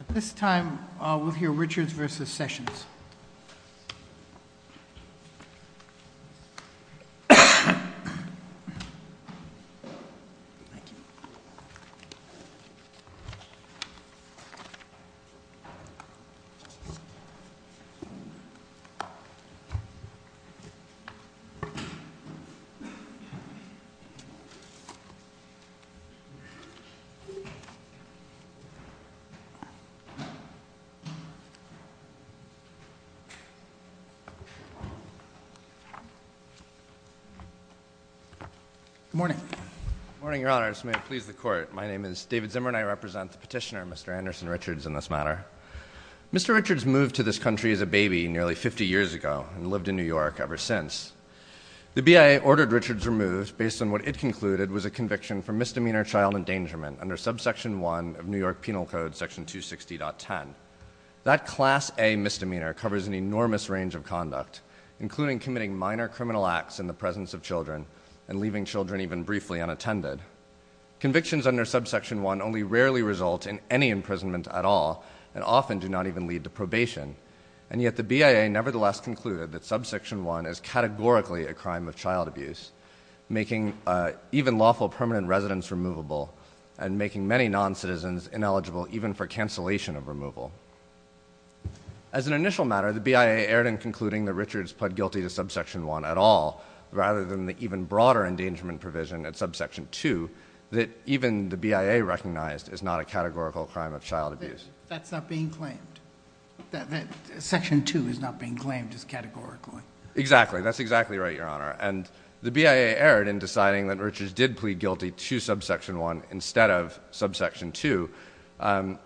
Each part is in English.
At this time, we'll hear Richards v. Sessions. Good morning, Your Honors. May it please the Court, my name is David Zimmer and I represent the petitioner, Mr. Anderson Richards, in this matter. Mr. Richards moved to this country as a baby nearly 50 years ago and lived in New York ever since. The BIA ordered Richards removed based on what it concluded was a conviction for misdemeanor child endangerment under Subsection 1 of New York Penal Code, Section 260.10. That Class A misdemeanor covers an enormous range of conduct, including committing minor criminal acts in the presence of children and leaving children even briefly unattended. Convictions under Subsection 1 only rarely result in any imprisonment at all and often do not even lead to probation. And yet the BIA nevertheless concluded that Subsection 1 is categorically a crime of child abuse, making even lawful permanent residents removable and making many noncitizens ineligible even for cancellation of removal. As an initial matter, the BIA erred in concluding that Richards pled guilty to Subsection 1 at all rather than the even broader endangerment provision at Subsection 2 that even the BIA recognized is not a categorical crime of child abuse. That's not being claimed. Section 2 is not being claimed as categorically. Exactly. That's exactly right, Your Honor. And the BIA erred in deciding that Richards did plead guilty to Subsection 1 instead of Subsection 2. And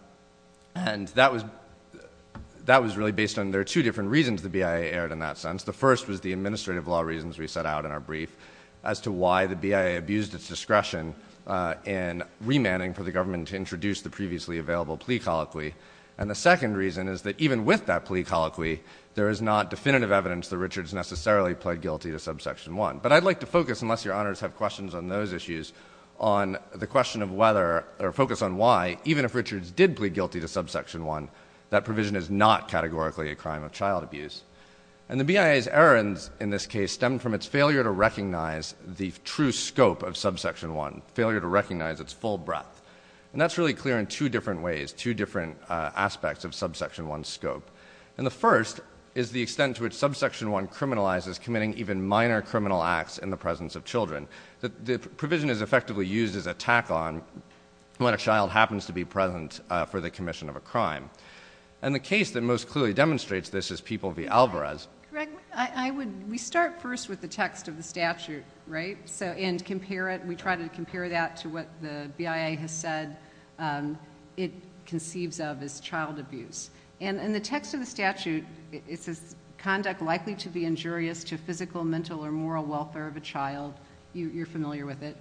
that was really based on there are two different reasons the BIA erred in that sense. The first was the administrative law reasons we set out in our brief as to why the BIA abused its discretion in remanding for the government to introduce the previously available plea colloquy. And the second reason is that even with that plea colloquy, there is not definitive evidence that Richards necessarily pled guilty to Subsection 1. But I'd like to focus, unless Your Honors have questions on those issues, on the question of whether or focus on why, even if Richards did plead guilty to Subsection 1, that provision is not categorically a crime of child abuse. And the BIA's errands in this case stem from its failure to recognize the true scope of the case. And that's really clear in two different ways, two different aspects of Subsection 1's scope. And the first is the extent to which Subsection 1 criminalizes committing even minor criminal acts in the presence of children. The provision is effectively used as a tack-on when a child happens to be present for the commission of a crime. And the case that most clearly demonstrates this is People v. Alvarez. Greg, we start first with the text of the statute, right? And we try to compare that to what the BIA has said it conceives of as child abuse. And in the text of the statute, it says, conduct likely to be injurious to physical, mental, or moral welfare of a child. You're familiar with it.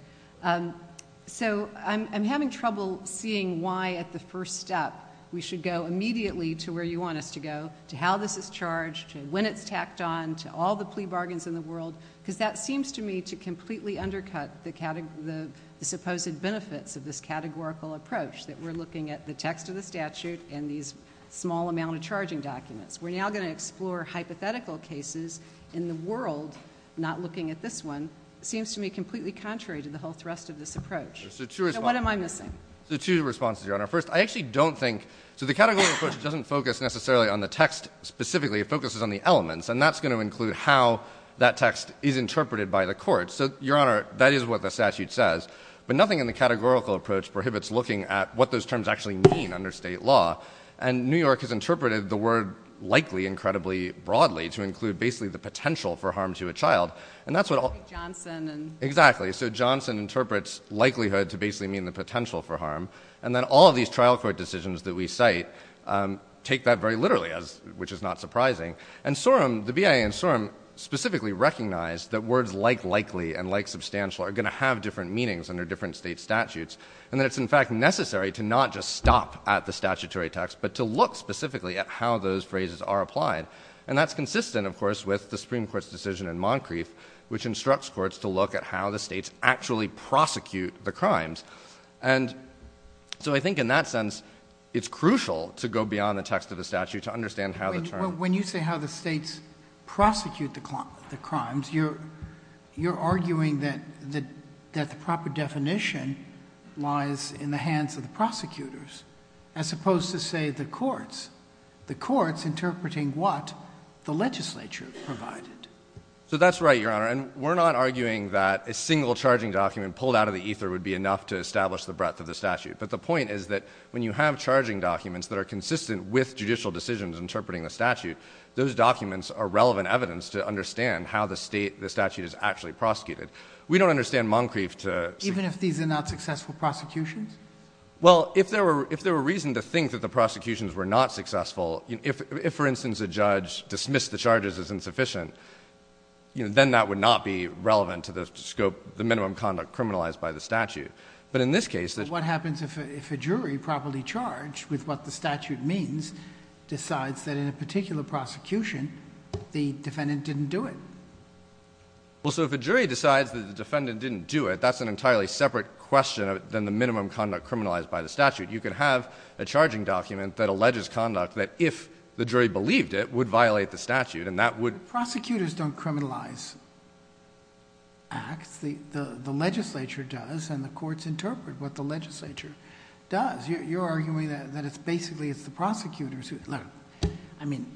So I'm having trouble seeing why, at the first step, we should go immediately to where you want us to go, to how this is charged, to when it's tacked on, to all the plea bargains in the world, because that seems to me to completely undercut the supposed benefits of this categorical approach, that we're looking at the text of the statute and these small amount of charging documents. We're now going to explore hypothetical cases in the world, not looking at this one, seems to me completely contrary to the whole thrust of this approach. So what am I missing? So two responses, Your Honor. First, I actually don't think, so the categorical approach doesn't focus necessarily on the text specifically. It focuses on the elements. And that's going to include how that text is interpreted by the court. So, Your Honor, that is what the But nothing in the categorical approach prohibits looking at what those terms actually mean under state law. And New York has interpreted the word likely incredibly broadly to include basically the potential for harm to a child. And that's what all... Johnson and... Exactly. So Johnson interprets likelihood to basically mean the potential for harm. And then all of these trial court decisions that we cite take that very literally, which is not surprising. And Sorum, the BIA in Sorum, specifically recognized that words like likely and like substantial are going to have different meanings under different state statutes. And that it's, in fact, necessary to not just stop at the statutory text, but to look specifically at how those phrases are applied. And that's consistent, of course, with the Supreme Court's decision in Moncrief, which instructs courts to look at how the states actually prosecute the crimes. And so I think in that sense, it's crucial to go beyond the text of the statute to understand how the terms... You're arguing that the proper definition lies in the hands of the prosecutors, as opposed to, say, the courts. The courts interpreting what the legislature provided. So that's right, Your Honor. And we're not arguing that a single charging document pulled out of the ether would be enough to establish the breadth of the statute. But the point is that when you have charging documents that are consistent with judicial decisions interpreting the statute, those documents are relevant evidence to understand how the state, the state prosecuted. We don't understand Moncrief to... Even if these are not successful prosecutions? Well, if there were reason to think that the prosecutions were not successful, if, for instance, a judge dismissed the charges as insufficient, then that would not be relevant to the scope, the minimum conduct criminalized by the statute. But in this case... What happens if a jury properly charged with what the statute means decides that in a particular prosecution the defendant didn't do it? Well, so if a jury decides that the defendant didn't do it, that's an entirely separate question than the minimum conduct criminalized by the statute. You could have a charging document that alleges conduct that, if the jury believed it, would violate the statute, and that would... Prosecutors don't criminalize acts. The legislature does, and the courts interpret what the legislature does. You're arguing that it's basically it's the prosecutors who... Look, I mean,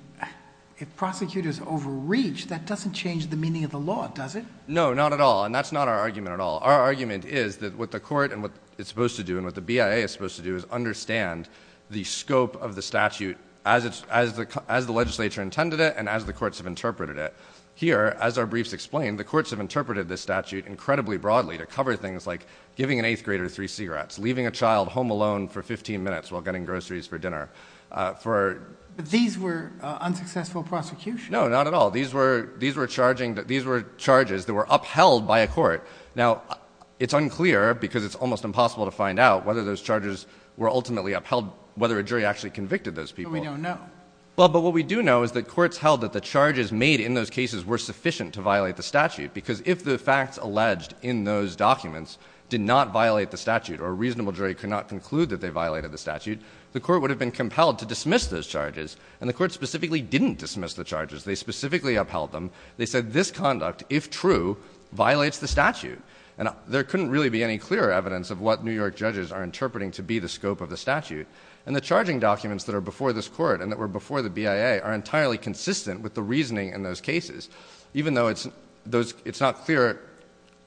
if prosecutors overreach, that doesn't change the meaning of the law, does it? No, not at all, and that's not our argument at all. Our argument is that what the court and what it's supposed to do and what the BIA is supposed to do is understand the scope of the statute as the legislature intended it and as the courts have interpreted it. Here, as our briefs explain, the courts have interpreted this statute incredibly broadly to cover things like giving an eighth grader three cigarettes, leaving a child home alone for 15 minutes while getting groceries for dinner, for... These were unsuccessful prosecutions? No, not at all. These were charges that were upheld by a court. Now, it's unclear because it's almost impossible to find out whether those charges were ultimately upheld, whether a jury actually convicted those people. But we don't know. Well, but what we do know is that courts held that the charges made in those cases were sufficient to violate the statute because if the facts alleged in those documents did not violate the statute or a reasonable jury could not conclude that they violated the statute, the court would have been compelled to dismiss those charges, and the court specifically didn't dismiss the charges. They specifically upheld them. They said this conduct, if true, violates the statute. And there couldn't really be any clearer evidence of what New York judges are interpreting to be the scope of the statute. And the charging documents that are before this court and that were before the BIA are entirely consistent with the reasoning in those cases. Even though it's not clear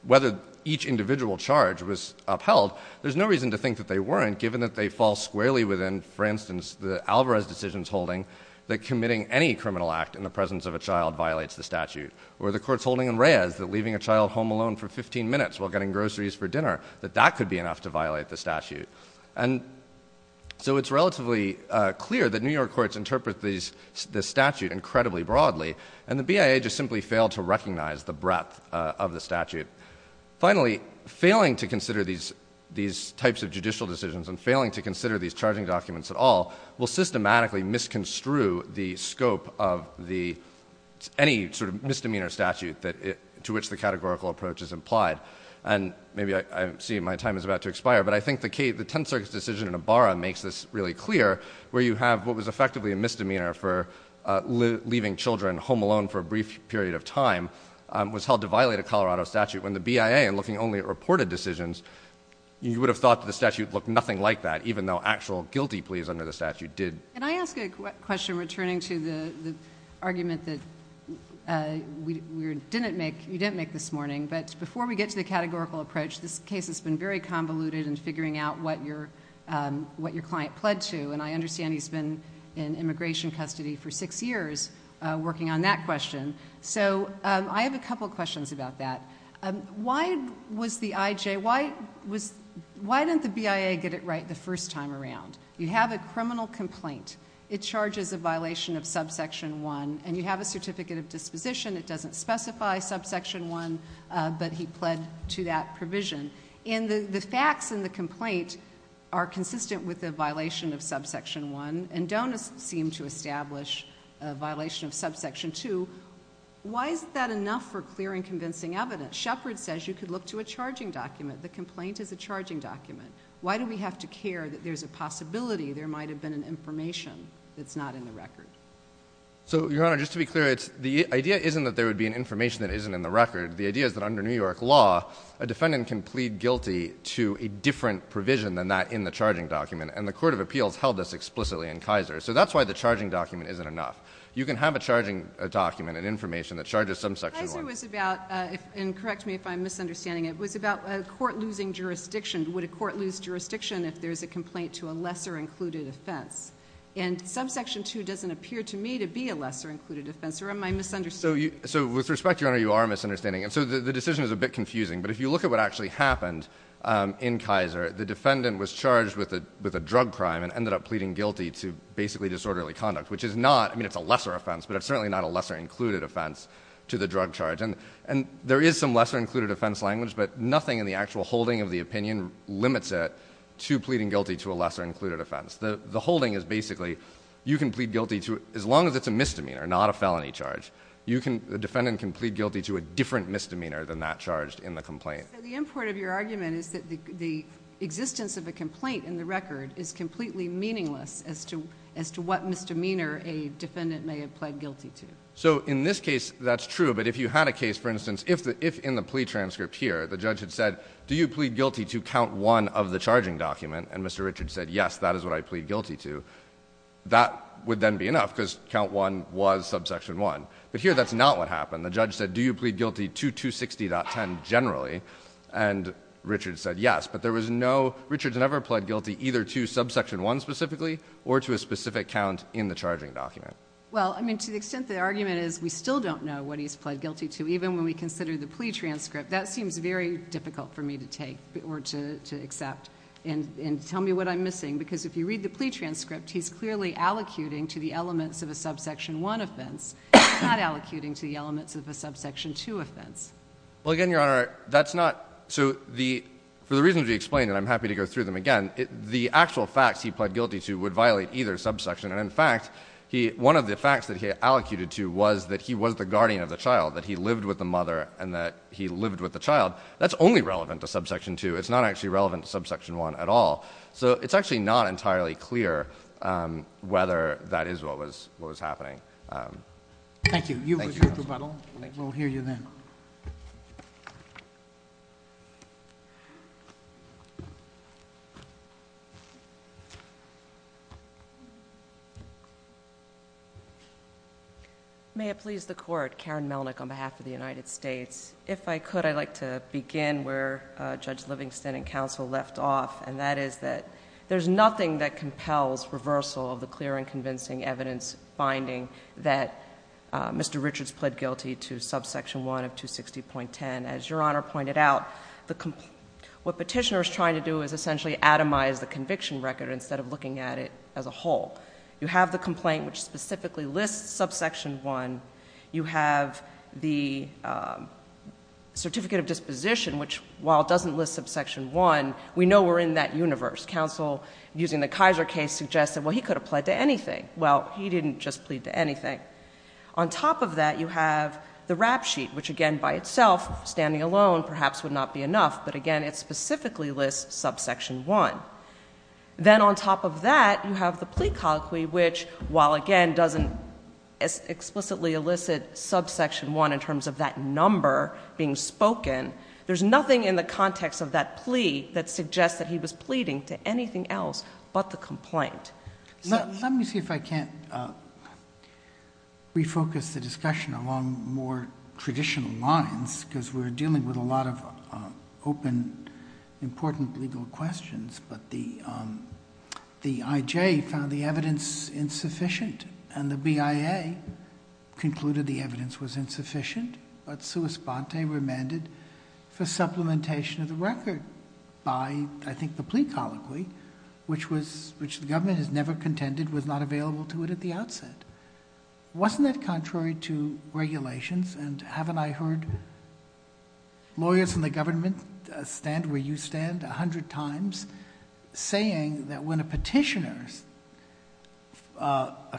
whether each individual charge was upheld, there's no reason to think that they weren't, given that they fall squarely within, for instance, the Alvarez decision's holding that committing any criminal act in the presence of a child violates the statute. Or the court's holding in Reyes that leaving a child home alone for 15 minutes while getting groceries for dinner, that that could be enough to violate the statute. And so it's relatively clear that New York courts interpret the statute incredibly broadly, and the BIA just simply failed to recognize the breadth of the statute. Finally, failing to consider these types of judicial decisions and failing to consider these charging documents at all will systematically misconstrue the scope of any sort of misdemeanor statute to which the categorical approach is implied. And maybe I see my time is about to expire, but I think the Tenth Circuit's decision in Ibarra makes this really clear, where you have what was effectively a misdemeanor for leaving children home alone for a brief period of time was held to violate a Colorado statute, when the BIA, in looking only at reported decisions, you would have thought that the statute looked nothing like that, even though actual guilty pleas under the statute did. Can I ask a question returning to the argument that you didn't make this morning, but before we get to the categorical approach, this case has been very convoluted in figuring out what your client pled to, and I understand he's been in immigration custody for six years working on that question. So I have a couple questions about that. Why didn't the BIA get it right the first time around? You have a criminal complaint. It charges a violation of subsection 1, and you have a certificate of disposition. It doesn't specify subsection 1, but he pled to that provision. And the facts in the complaint are consistent with the violation of subsection 1, and don't seem to establish a violation of subsection 2. Why is that enough for clear and convincing evidence? Shepherd says you could look to a charging document. The complaint is a charging document. Why do we have to care that there's a possibility there might have been an information that's not in the record? So Your Honor, just to be clear, the idea isn't that there would be an information that isn't in the record. The idea is that under New York law, a defendant can plead guilty to a different provision than that in the charging document, and the Court of Appeals held this explicitly in Kaiser. So that's why the charging document isn't enough. You can have a charging document, an information that charges subsection 1. Your Honor, it was about, and correct me if I'm misunderstanding, it was about a court losing jurisdiction. Would a court lose jurisdiction if there's a complaint to a lesser-included offense? And subsection 2 doesn't appear to me to be a lesser-included offense, or am I misunderstanding? So with respect, Your Honor, you are misunderstanding. And so the decision is a bit confusing, but if you look at what actually happened in Kaiser, the defendant was charged with a drug crime and ended up pleading guilty to basically disorderly conduct, which is not, I mean it's not a lesser offense, but it's certainly not a lesser-included offense to the drug charge. And there is some lesser-included offense language, but nothing in the actual holding of the opinion limits it to pleading guilty to a lesser-included offense. The holding is basically, you can plead guilty to, as long as it's a misdemeanor, not a felony charge, you can, the defendant can plead guilty to a different misdemeanor than that charged in the complaint. So the import of your argument is that the existence of a complaint in the record is So in this case, that's true, but if you had a case, for instance, if in the plea transcript here the judge had said, do you plead guilty to count one of the charging document, and Mr. Richards said, yes, that is what I plead guilty to, that would then be enough, because count one was subsection one. But here that's not what happened. The judge said, do you plead guilty to 260.10 generally, and Richards said yes. But there was no, Richards never pled guilty either to subsection one specifically or to a specific count in the charging document. Well, I mean, to the extent the argument is we still don't know what he's pled guilty to, even when we consider the plea transcript, that seems very difficult for me to take or to accept. And tell me what I'm missing, because if you read the plea transcript, he's clearly allocuting to the elements of a subsection one offense. He's not allocuting to the elements of a subsection two offense. Well, again, Your Honor, that's not, so the, for the reasons we explained, and I'm happy to go through them again, the actual facts he pled guilty to would violate either subsection. And in fact, he, one of the facts that he allocated to was that he was the guardian of the child, that he lived with the mother and that he lived with the child. That's only relevant to subsection two. It's not actually relevant to subsection one at all. So it's actually not entirely clear whether that is what was, what was happening. Thank you. You've reviewed the battle. We'll hear you then. May it please the Court. Karen Melnick on behalf of the United States. If I could, I'd like to begin where Judge Livingston and counsel left off, and that is that there's nothing that compels reversal of the clear and convincing evidence finding that Mr. Richards pled guilty to subsection one of 260.10. As Your Honor pointed out, the, what petitioner is trying to do is essentially atomize the conviction record instead of looking at it as a whole. You have the complaint, which specifically lists subsection one. You have the certificate of disposition, which while it doesn't list subsection one, we know we're in that universe. Counsel, using the Kaiser case, suggested, well, he could have pled to anything. Well, he didn't just plead to anything. On top of that, you have the rap sheet, which again, by itself, standing alone perhaps would not be enough, but again, it specifically lists subsection one. Then on top of that, you have the plea colloquy, which while again doesn't explicitly elicit subsection one in terms of that number being spoken, there's nothing in the context of that plea that suggests that he was pleading to anything else but the complaint. Let me see if I can't refocus the discussion along more traditional lines because we're dealing with a lot of open, important legal questions, but the IJ found the evidence insufficient and the BIA concluded the evidence was insufficient, but Suus Bante remanded for supplementation of the record by, I think, the plea colloquy, which the government has never contended was not available to it at the outset. Wasn't that contrary to regulations? Haven't I heard lawyers in the government stand where you stand a hundred times saying that when a petitioner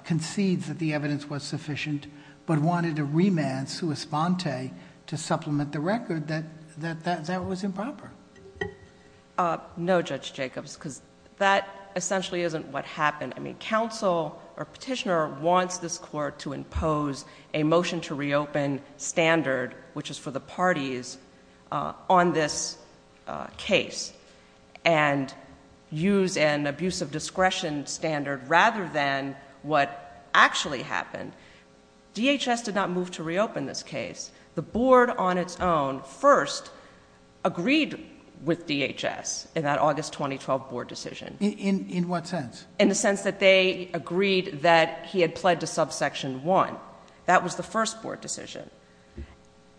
concedes that the evidence was sufficient, but wanted to remand Suus Bante to supplement the record, that that was improper? No, Judge Jacobs, because that essentially isn't what happened. I mean, counsel or petitioner wants this court to impose a motion to reopen standard, which is for the parties on this case and use an abuse of discretion standard rather than what actually happened. DHS did not move to reopen this case. The board on its own first agreed with DHS in that August 2012 board decision. In what sense? In the sense that they agreed that he had pled to subsection one. That was the first board decision.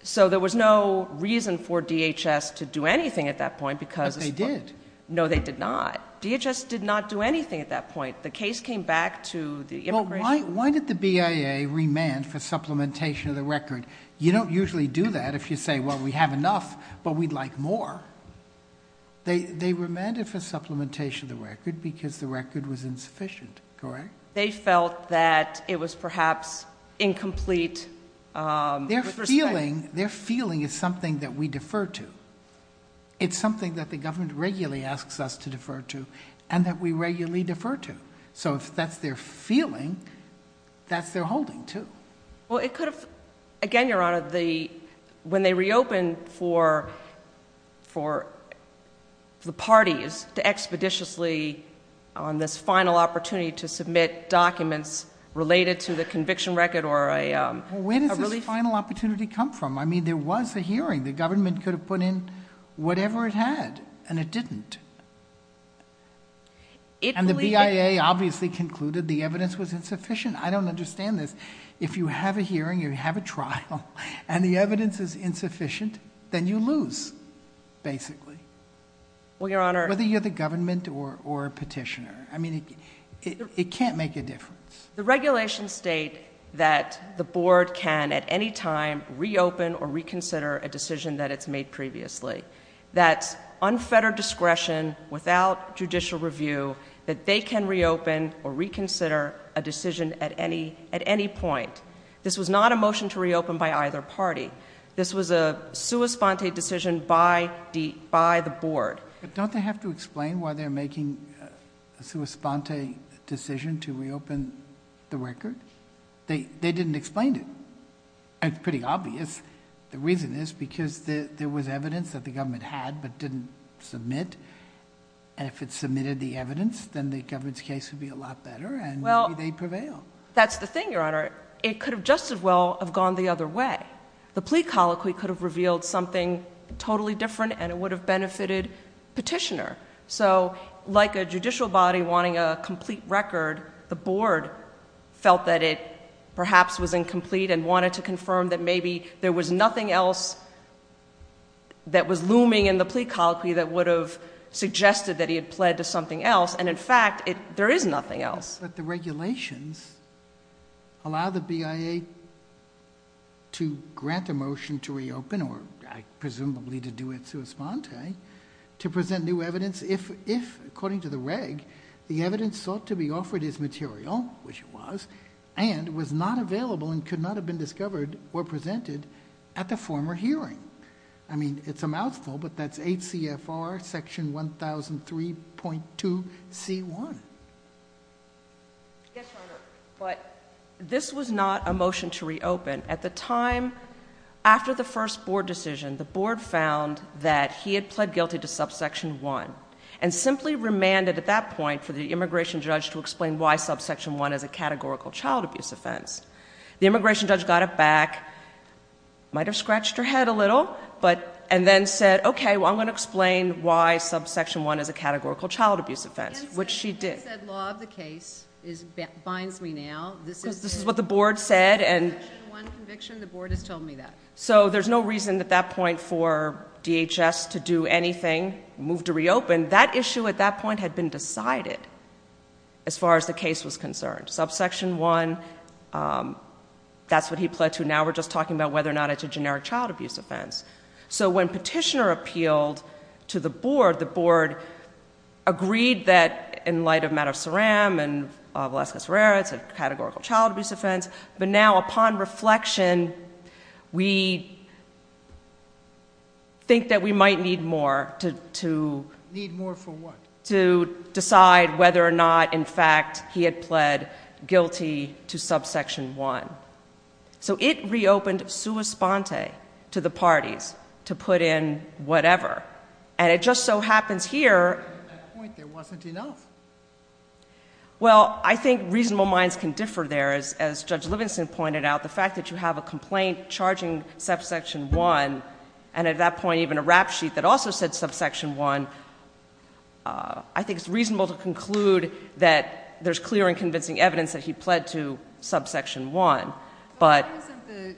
So there was no reason for DHS to do anything at that point because... But they did. No, they did not. DHS did not do anything at that point. The case came back to the immigration... Well, why did the BIA remand for supplementation of the record? You don't usually do that if you say, well, we have enough, but we'd like more. They remanded for supplementation of the record because the record was insufficient, correct? They felt that it was perhaps incomplete with respect... Their feeling is something that we defer to. It's something that the government regularly asks us to defer to and that we regularly defer to. So if that's their feeling, that's their holding too. Well, it could have... Again, Your Honor, when they reopened for the parties to expeditiously on this final opportunity to submit documents related to the conviction record or a relief... Well, where does this final opportunity come from? I mean, there was a hearing. The government could have put in whatever it had and it didn't. And the BIA obviously concluded the evidence was insufficient. I don't understand this. If you have a hearing, you have a trial, and the evidence is insufficient, then you lose, basically, whether you're the government or a petitioner. I mean, it can't make a difference. The regulations state that the board can, at any time, reopen or reconsider a decision that it's made previously. That's unfettered discretion without judicial review, that they can reopen or reconsider a decision at any point. This was not a motion to reopen by either party. This was a sua sponte decision by the board. Don't they have to explain why they're making a sua sponte decision to reopen the record? They didn't explain it. It's pretty obvious. The reason is because there was evidence that the government had but didn't submit. And if it submitted the evidence, then the government's case would be a lot better, and maybe they'd prevail. That's the thing, Your Honor. It could have just as well have gone the other way. The petitioner. Like a judicial body wanting a complete record, the board felt that it perhaps was incomplete and wanted to confirm that maybe there was nothing else that was looming in the plea colloquy that would have suggested that he had pled to something else. In fact, there is nothing else. The regulations allow the BIA to grant a motion to reopen, or presumably to do it sua sponte, to present new evidence, if, according to the reg, the evidence sought to be offered as material, which it was, and was not available and could not have been discovered or presented at the former hearing. I mean, it's a mouthful, but that's 8 CFR section 1003.2 C1. Yes, Your Honor, but this was not a motion to reopen. At the time, after the first board decision, the board found that he had pled guilty to subsection 1, and simply remanded at that point for the immigration judge to explain why subsection 1 is a categorical child abuse offense. The immigration judge got it back, might have scratched her head a little, and then said, okay, well, I'm going to explain why subsection 1 is a categorical child abuse offense, which she did. You said law of the case binds me now. Because this is what the board said, and Subsection 1 conviction, the board has told me that. So there's no reason at that point for DHS to do anything, move to reopen. That issue at that point had been decided as far as the case was concerned. Subsection 1, that's what he pled to. Now we're just talking about whether or not it's a generic child abuse offense. So when Petitioner appealed to the board, the board agreed that, in light of matter of fact, it's a categorical child abuse offense. But now, upon reflection, we think that we might need more to decide whether or not, in fact, he had pled guilty to subsection 1. So it reopened sua sponte to the parties to put in whatever. And it just so happens here... At that point, there wasn't enough. Well, I think reasonable minds can differ there. As Judge Livingston pointed out, the fact that you have a complaint charging subsection 1, and at that point even a rap sheet that also said subsection 1, I think it's reasonable to conclude that there's clear and convincing evidence that he pled to subsection 1. But why isn't the...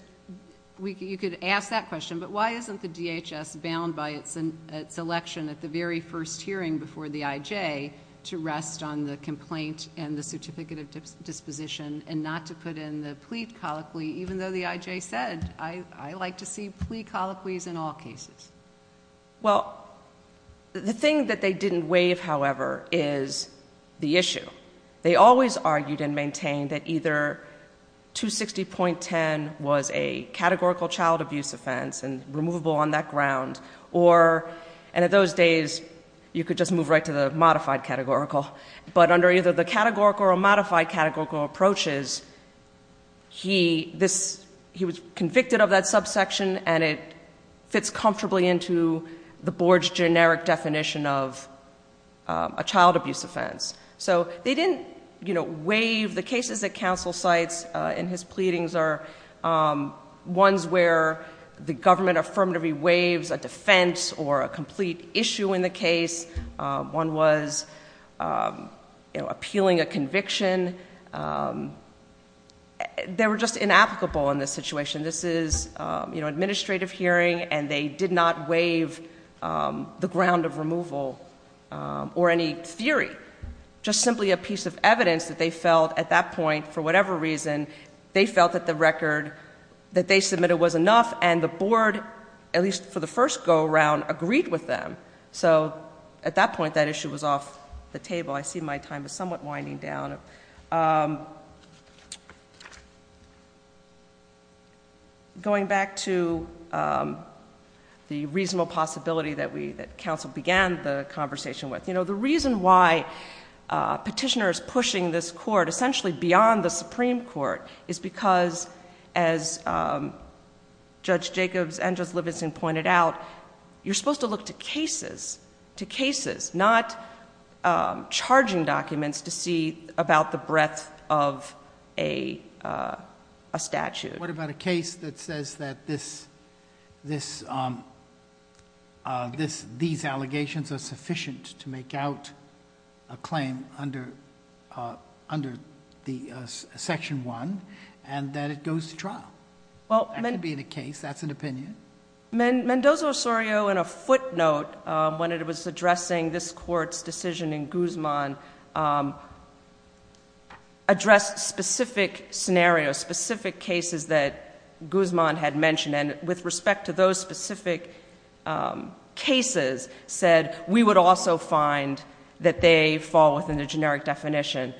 You could ask that question, but why isn't the DHS bound by its election at the very first hearing before the IJ to rest on the complaint and the certificate of disposition and not to put in the plea colloquy, even though the IJ said, I like to see plea colloquies in all cases? Well, the thing that they didn't waive, however, is the issue. They always argued and maintained that either 260.10 was a categorical child abuse offense and removable on that ground, or... And in those days, you could just move right to the modified categorical. But under either the categorical or modified categorical approaches, he was convicted of that subsection, and it fits comfortably into the board's generic definition of a child abuse offense. So they didn't waive... The cases that counsel cites in his pleadings are ones where the government affirmatively waives a defense or a complete issue in the case. One was appealing a conviction. They were just inapplicable in this situation. This is an administrative hearing, and they did not waive the ground of removal or any theory, just simply a piece of evidence that they felt at that point, for whatever reason, they felt that the record that they submitted was enough, and the board, at least for the first go-around, agreed with them. So at that point, that issue was off the table. I see my time is somewhat winding down. Going back to the reasonable possibility that counsel began the conversation with, the reason why a petitioner is pushing this court essentially beyond the Supreme Court is because, as Judge Jacobs and Judge Levinson pointed out, you're supposed to look to cases, to cases, not charging documents to see about the breadth of a statute. What about a case that says that this... These allegations are sufficient to make out the claim under Section 1, and that it goes to trial? That can be in a case. That's an opinion. Mendoza-Osorio, in a footnote, when it was addressing this court's decision in Guzman, addressed specific scenarios, specific cases that Guzman had mentioned, and with respect to those specific cases, said, we would also find that they fall within the generic definition.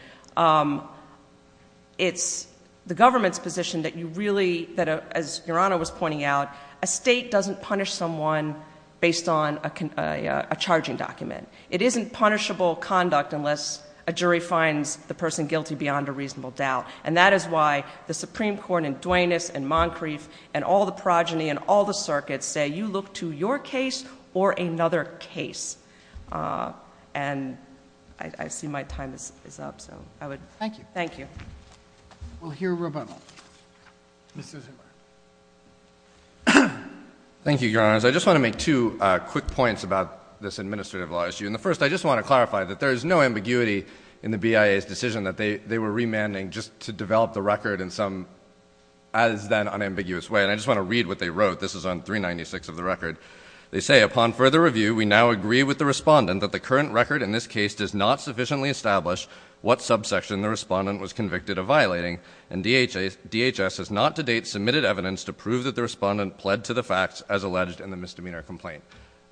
It's the government's position that you really, as Your Honor was pointing out, a state doesn't punish someone based on a charging document. It isn't punishable conduct unless a jury finds the person guilty beyond a reasonable doubt, and that is why the Supreme Court in all circuits say you look to your case or another case. And I see my time is up, so I would... Thank you. Thank you. We'll hear from Mr. Zimmer. Thank you, Your Honors. I just want to make two quick points about this administrative law issue. And the first, I just want to clarify that there is no ambiguity in the BIA's decision that they were remanding just to develop the record in some as-then unambiguous way. And I just want to read what they wrote. This is on 396 of the record. They say, upon further review, we now agree with the respondent that the current record in this case does not sufficiently establish what subsection the respondent was convicted of violating, and DHS has not to date submitted evidence to prove that the respondent pled to the facts as alleged in the misdemeanor complaint.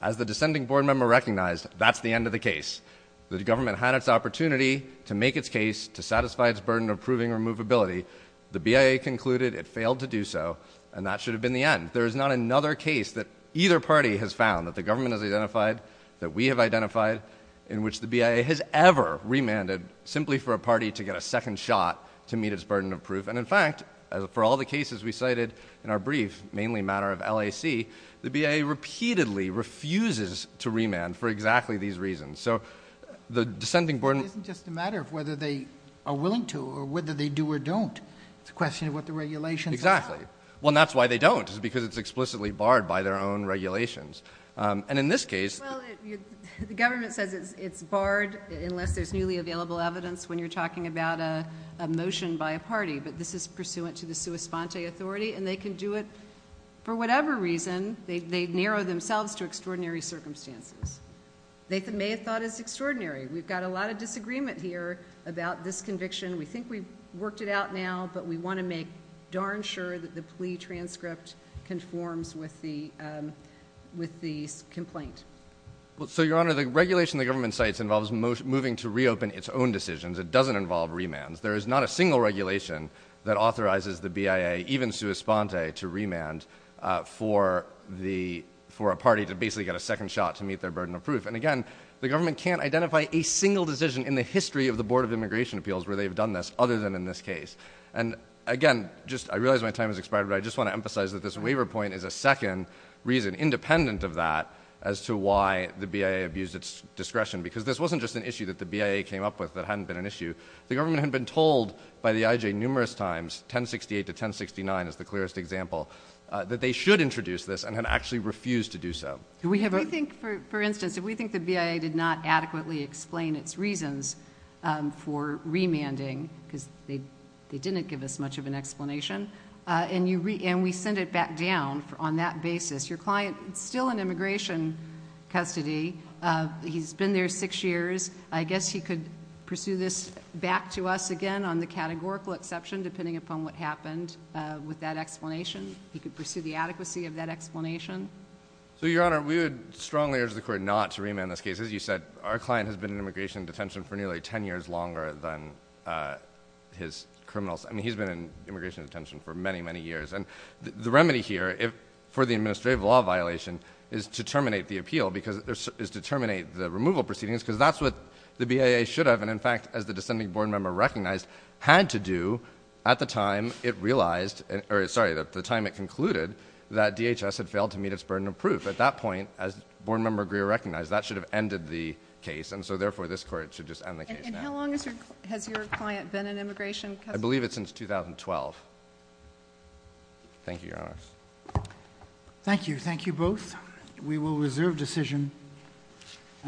As the descending board member recognized, that's the end of the case. The government had its opportunity to make its case, to satisfy its burden of proving removability. The BIA concluded it failed to do so, and that should have been the end. There is not another case that either party has found, that the government has identified, that we have identified, in which the BIA has ever remanded simply for a party to get a second shot to meet its burden of proof. And in fact, for all the cases we cited in our brief, mainly a matter of LAC, the BIA repeatedly refuses to remand for exactly these reasons. So the descending board... It isn't just a matter of whether they are willing to, or whether they do or don't. It's a question of what the regulations are. Exactly. Well, and that's why they don't, is because it's explicitly barred by their own regulations. And in this case... Well, the government says it's barred unless there's newly available evidence when you're talking about a motion by a party, but this is pursuant to the sua sponte authority, and they can do it for whatever reason. They narrow themselves to extraordinary circumstances. They may have thought it was extraordinary. We've got a lot of disagreement here about this conviction. We think we've worked it out now, but we want to make darn sure that the plea transcript conforms with the, um, with the complaint. Well, so, Your Honor, the regulation the government cites involves moving to reopen its own decisions. It doesn't involve remands. There is not a single regulation that authorizes the BIA, even sua sponte, to remand, uh, for the, for a party to basically get a second shot to meet their burden of proof. And again, the government can't identify a single decision in the history of the Board of Immigration Appeals where they've done this, other than in this case. And again, just, I realize my time has expired, but I just want to emphasize that this waiver point is a second reason, independent of that, as to why the BIA abused its discretion. Because this wasn't just an issue that the BIA came up with that hadn't been an issue. The government had been told by the IJ numerous times, 1068 to 1069 is the clearest example, uh, that they should introduce this and had actually refused to do so. We have, I think for, for instance, if we think the BIA did not adequately explain its reasons, um, for remanding, cause they, they didn't give us much of an explanation, uh, and you re, and we send it back down for, on that basis, your client still in immigration custody. Uh, he's been there six years. I guess he could pursue this back to us again on the categorical exception, depending upon what happened, uh, with that explanation. He could pursue the adequacy of that explanation. So your honor, we would strongly urge the court not to remand this case. As you said, our client has been in immigration detention for nearly 10 years longer than, uh, his criminals. I mean, he's been in immigration detention for many, many years. And the remedy here, if for the administrative law violation is to terminate the appeal because there's, is to terminate the removal proceedings because that's what the BIA should have. And in fact, as the descending board member recognized had to do at the time it realized, or sorry, the time it concluded that DHS had failed to meet its burden of proof at that point as board member Greer recognized that should have ended the case. And so therefore this court should just end the case now. And how long has your, has your client been in immigration custody? I believe it's since 2012. Thank you, your honor. Thank you. Thank you both. We will reserve decision.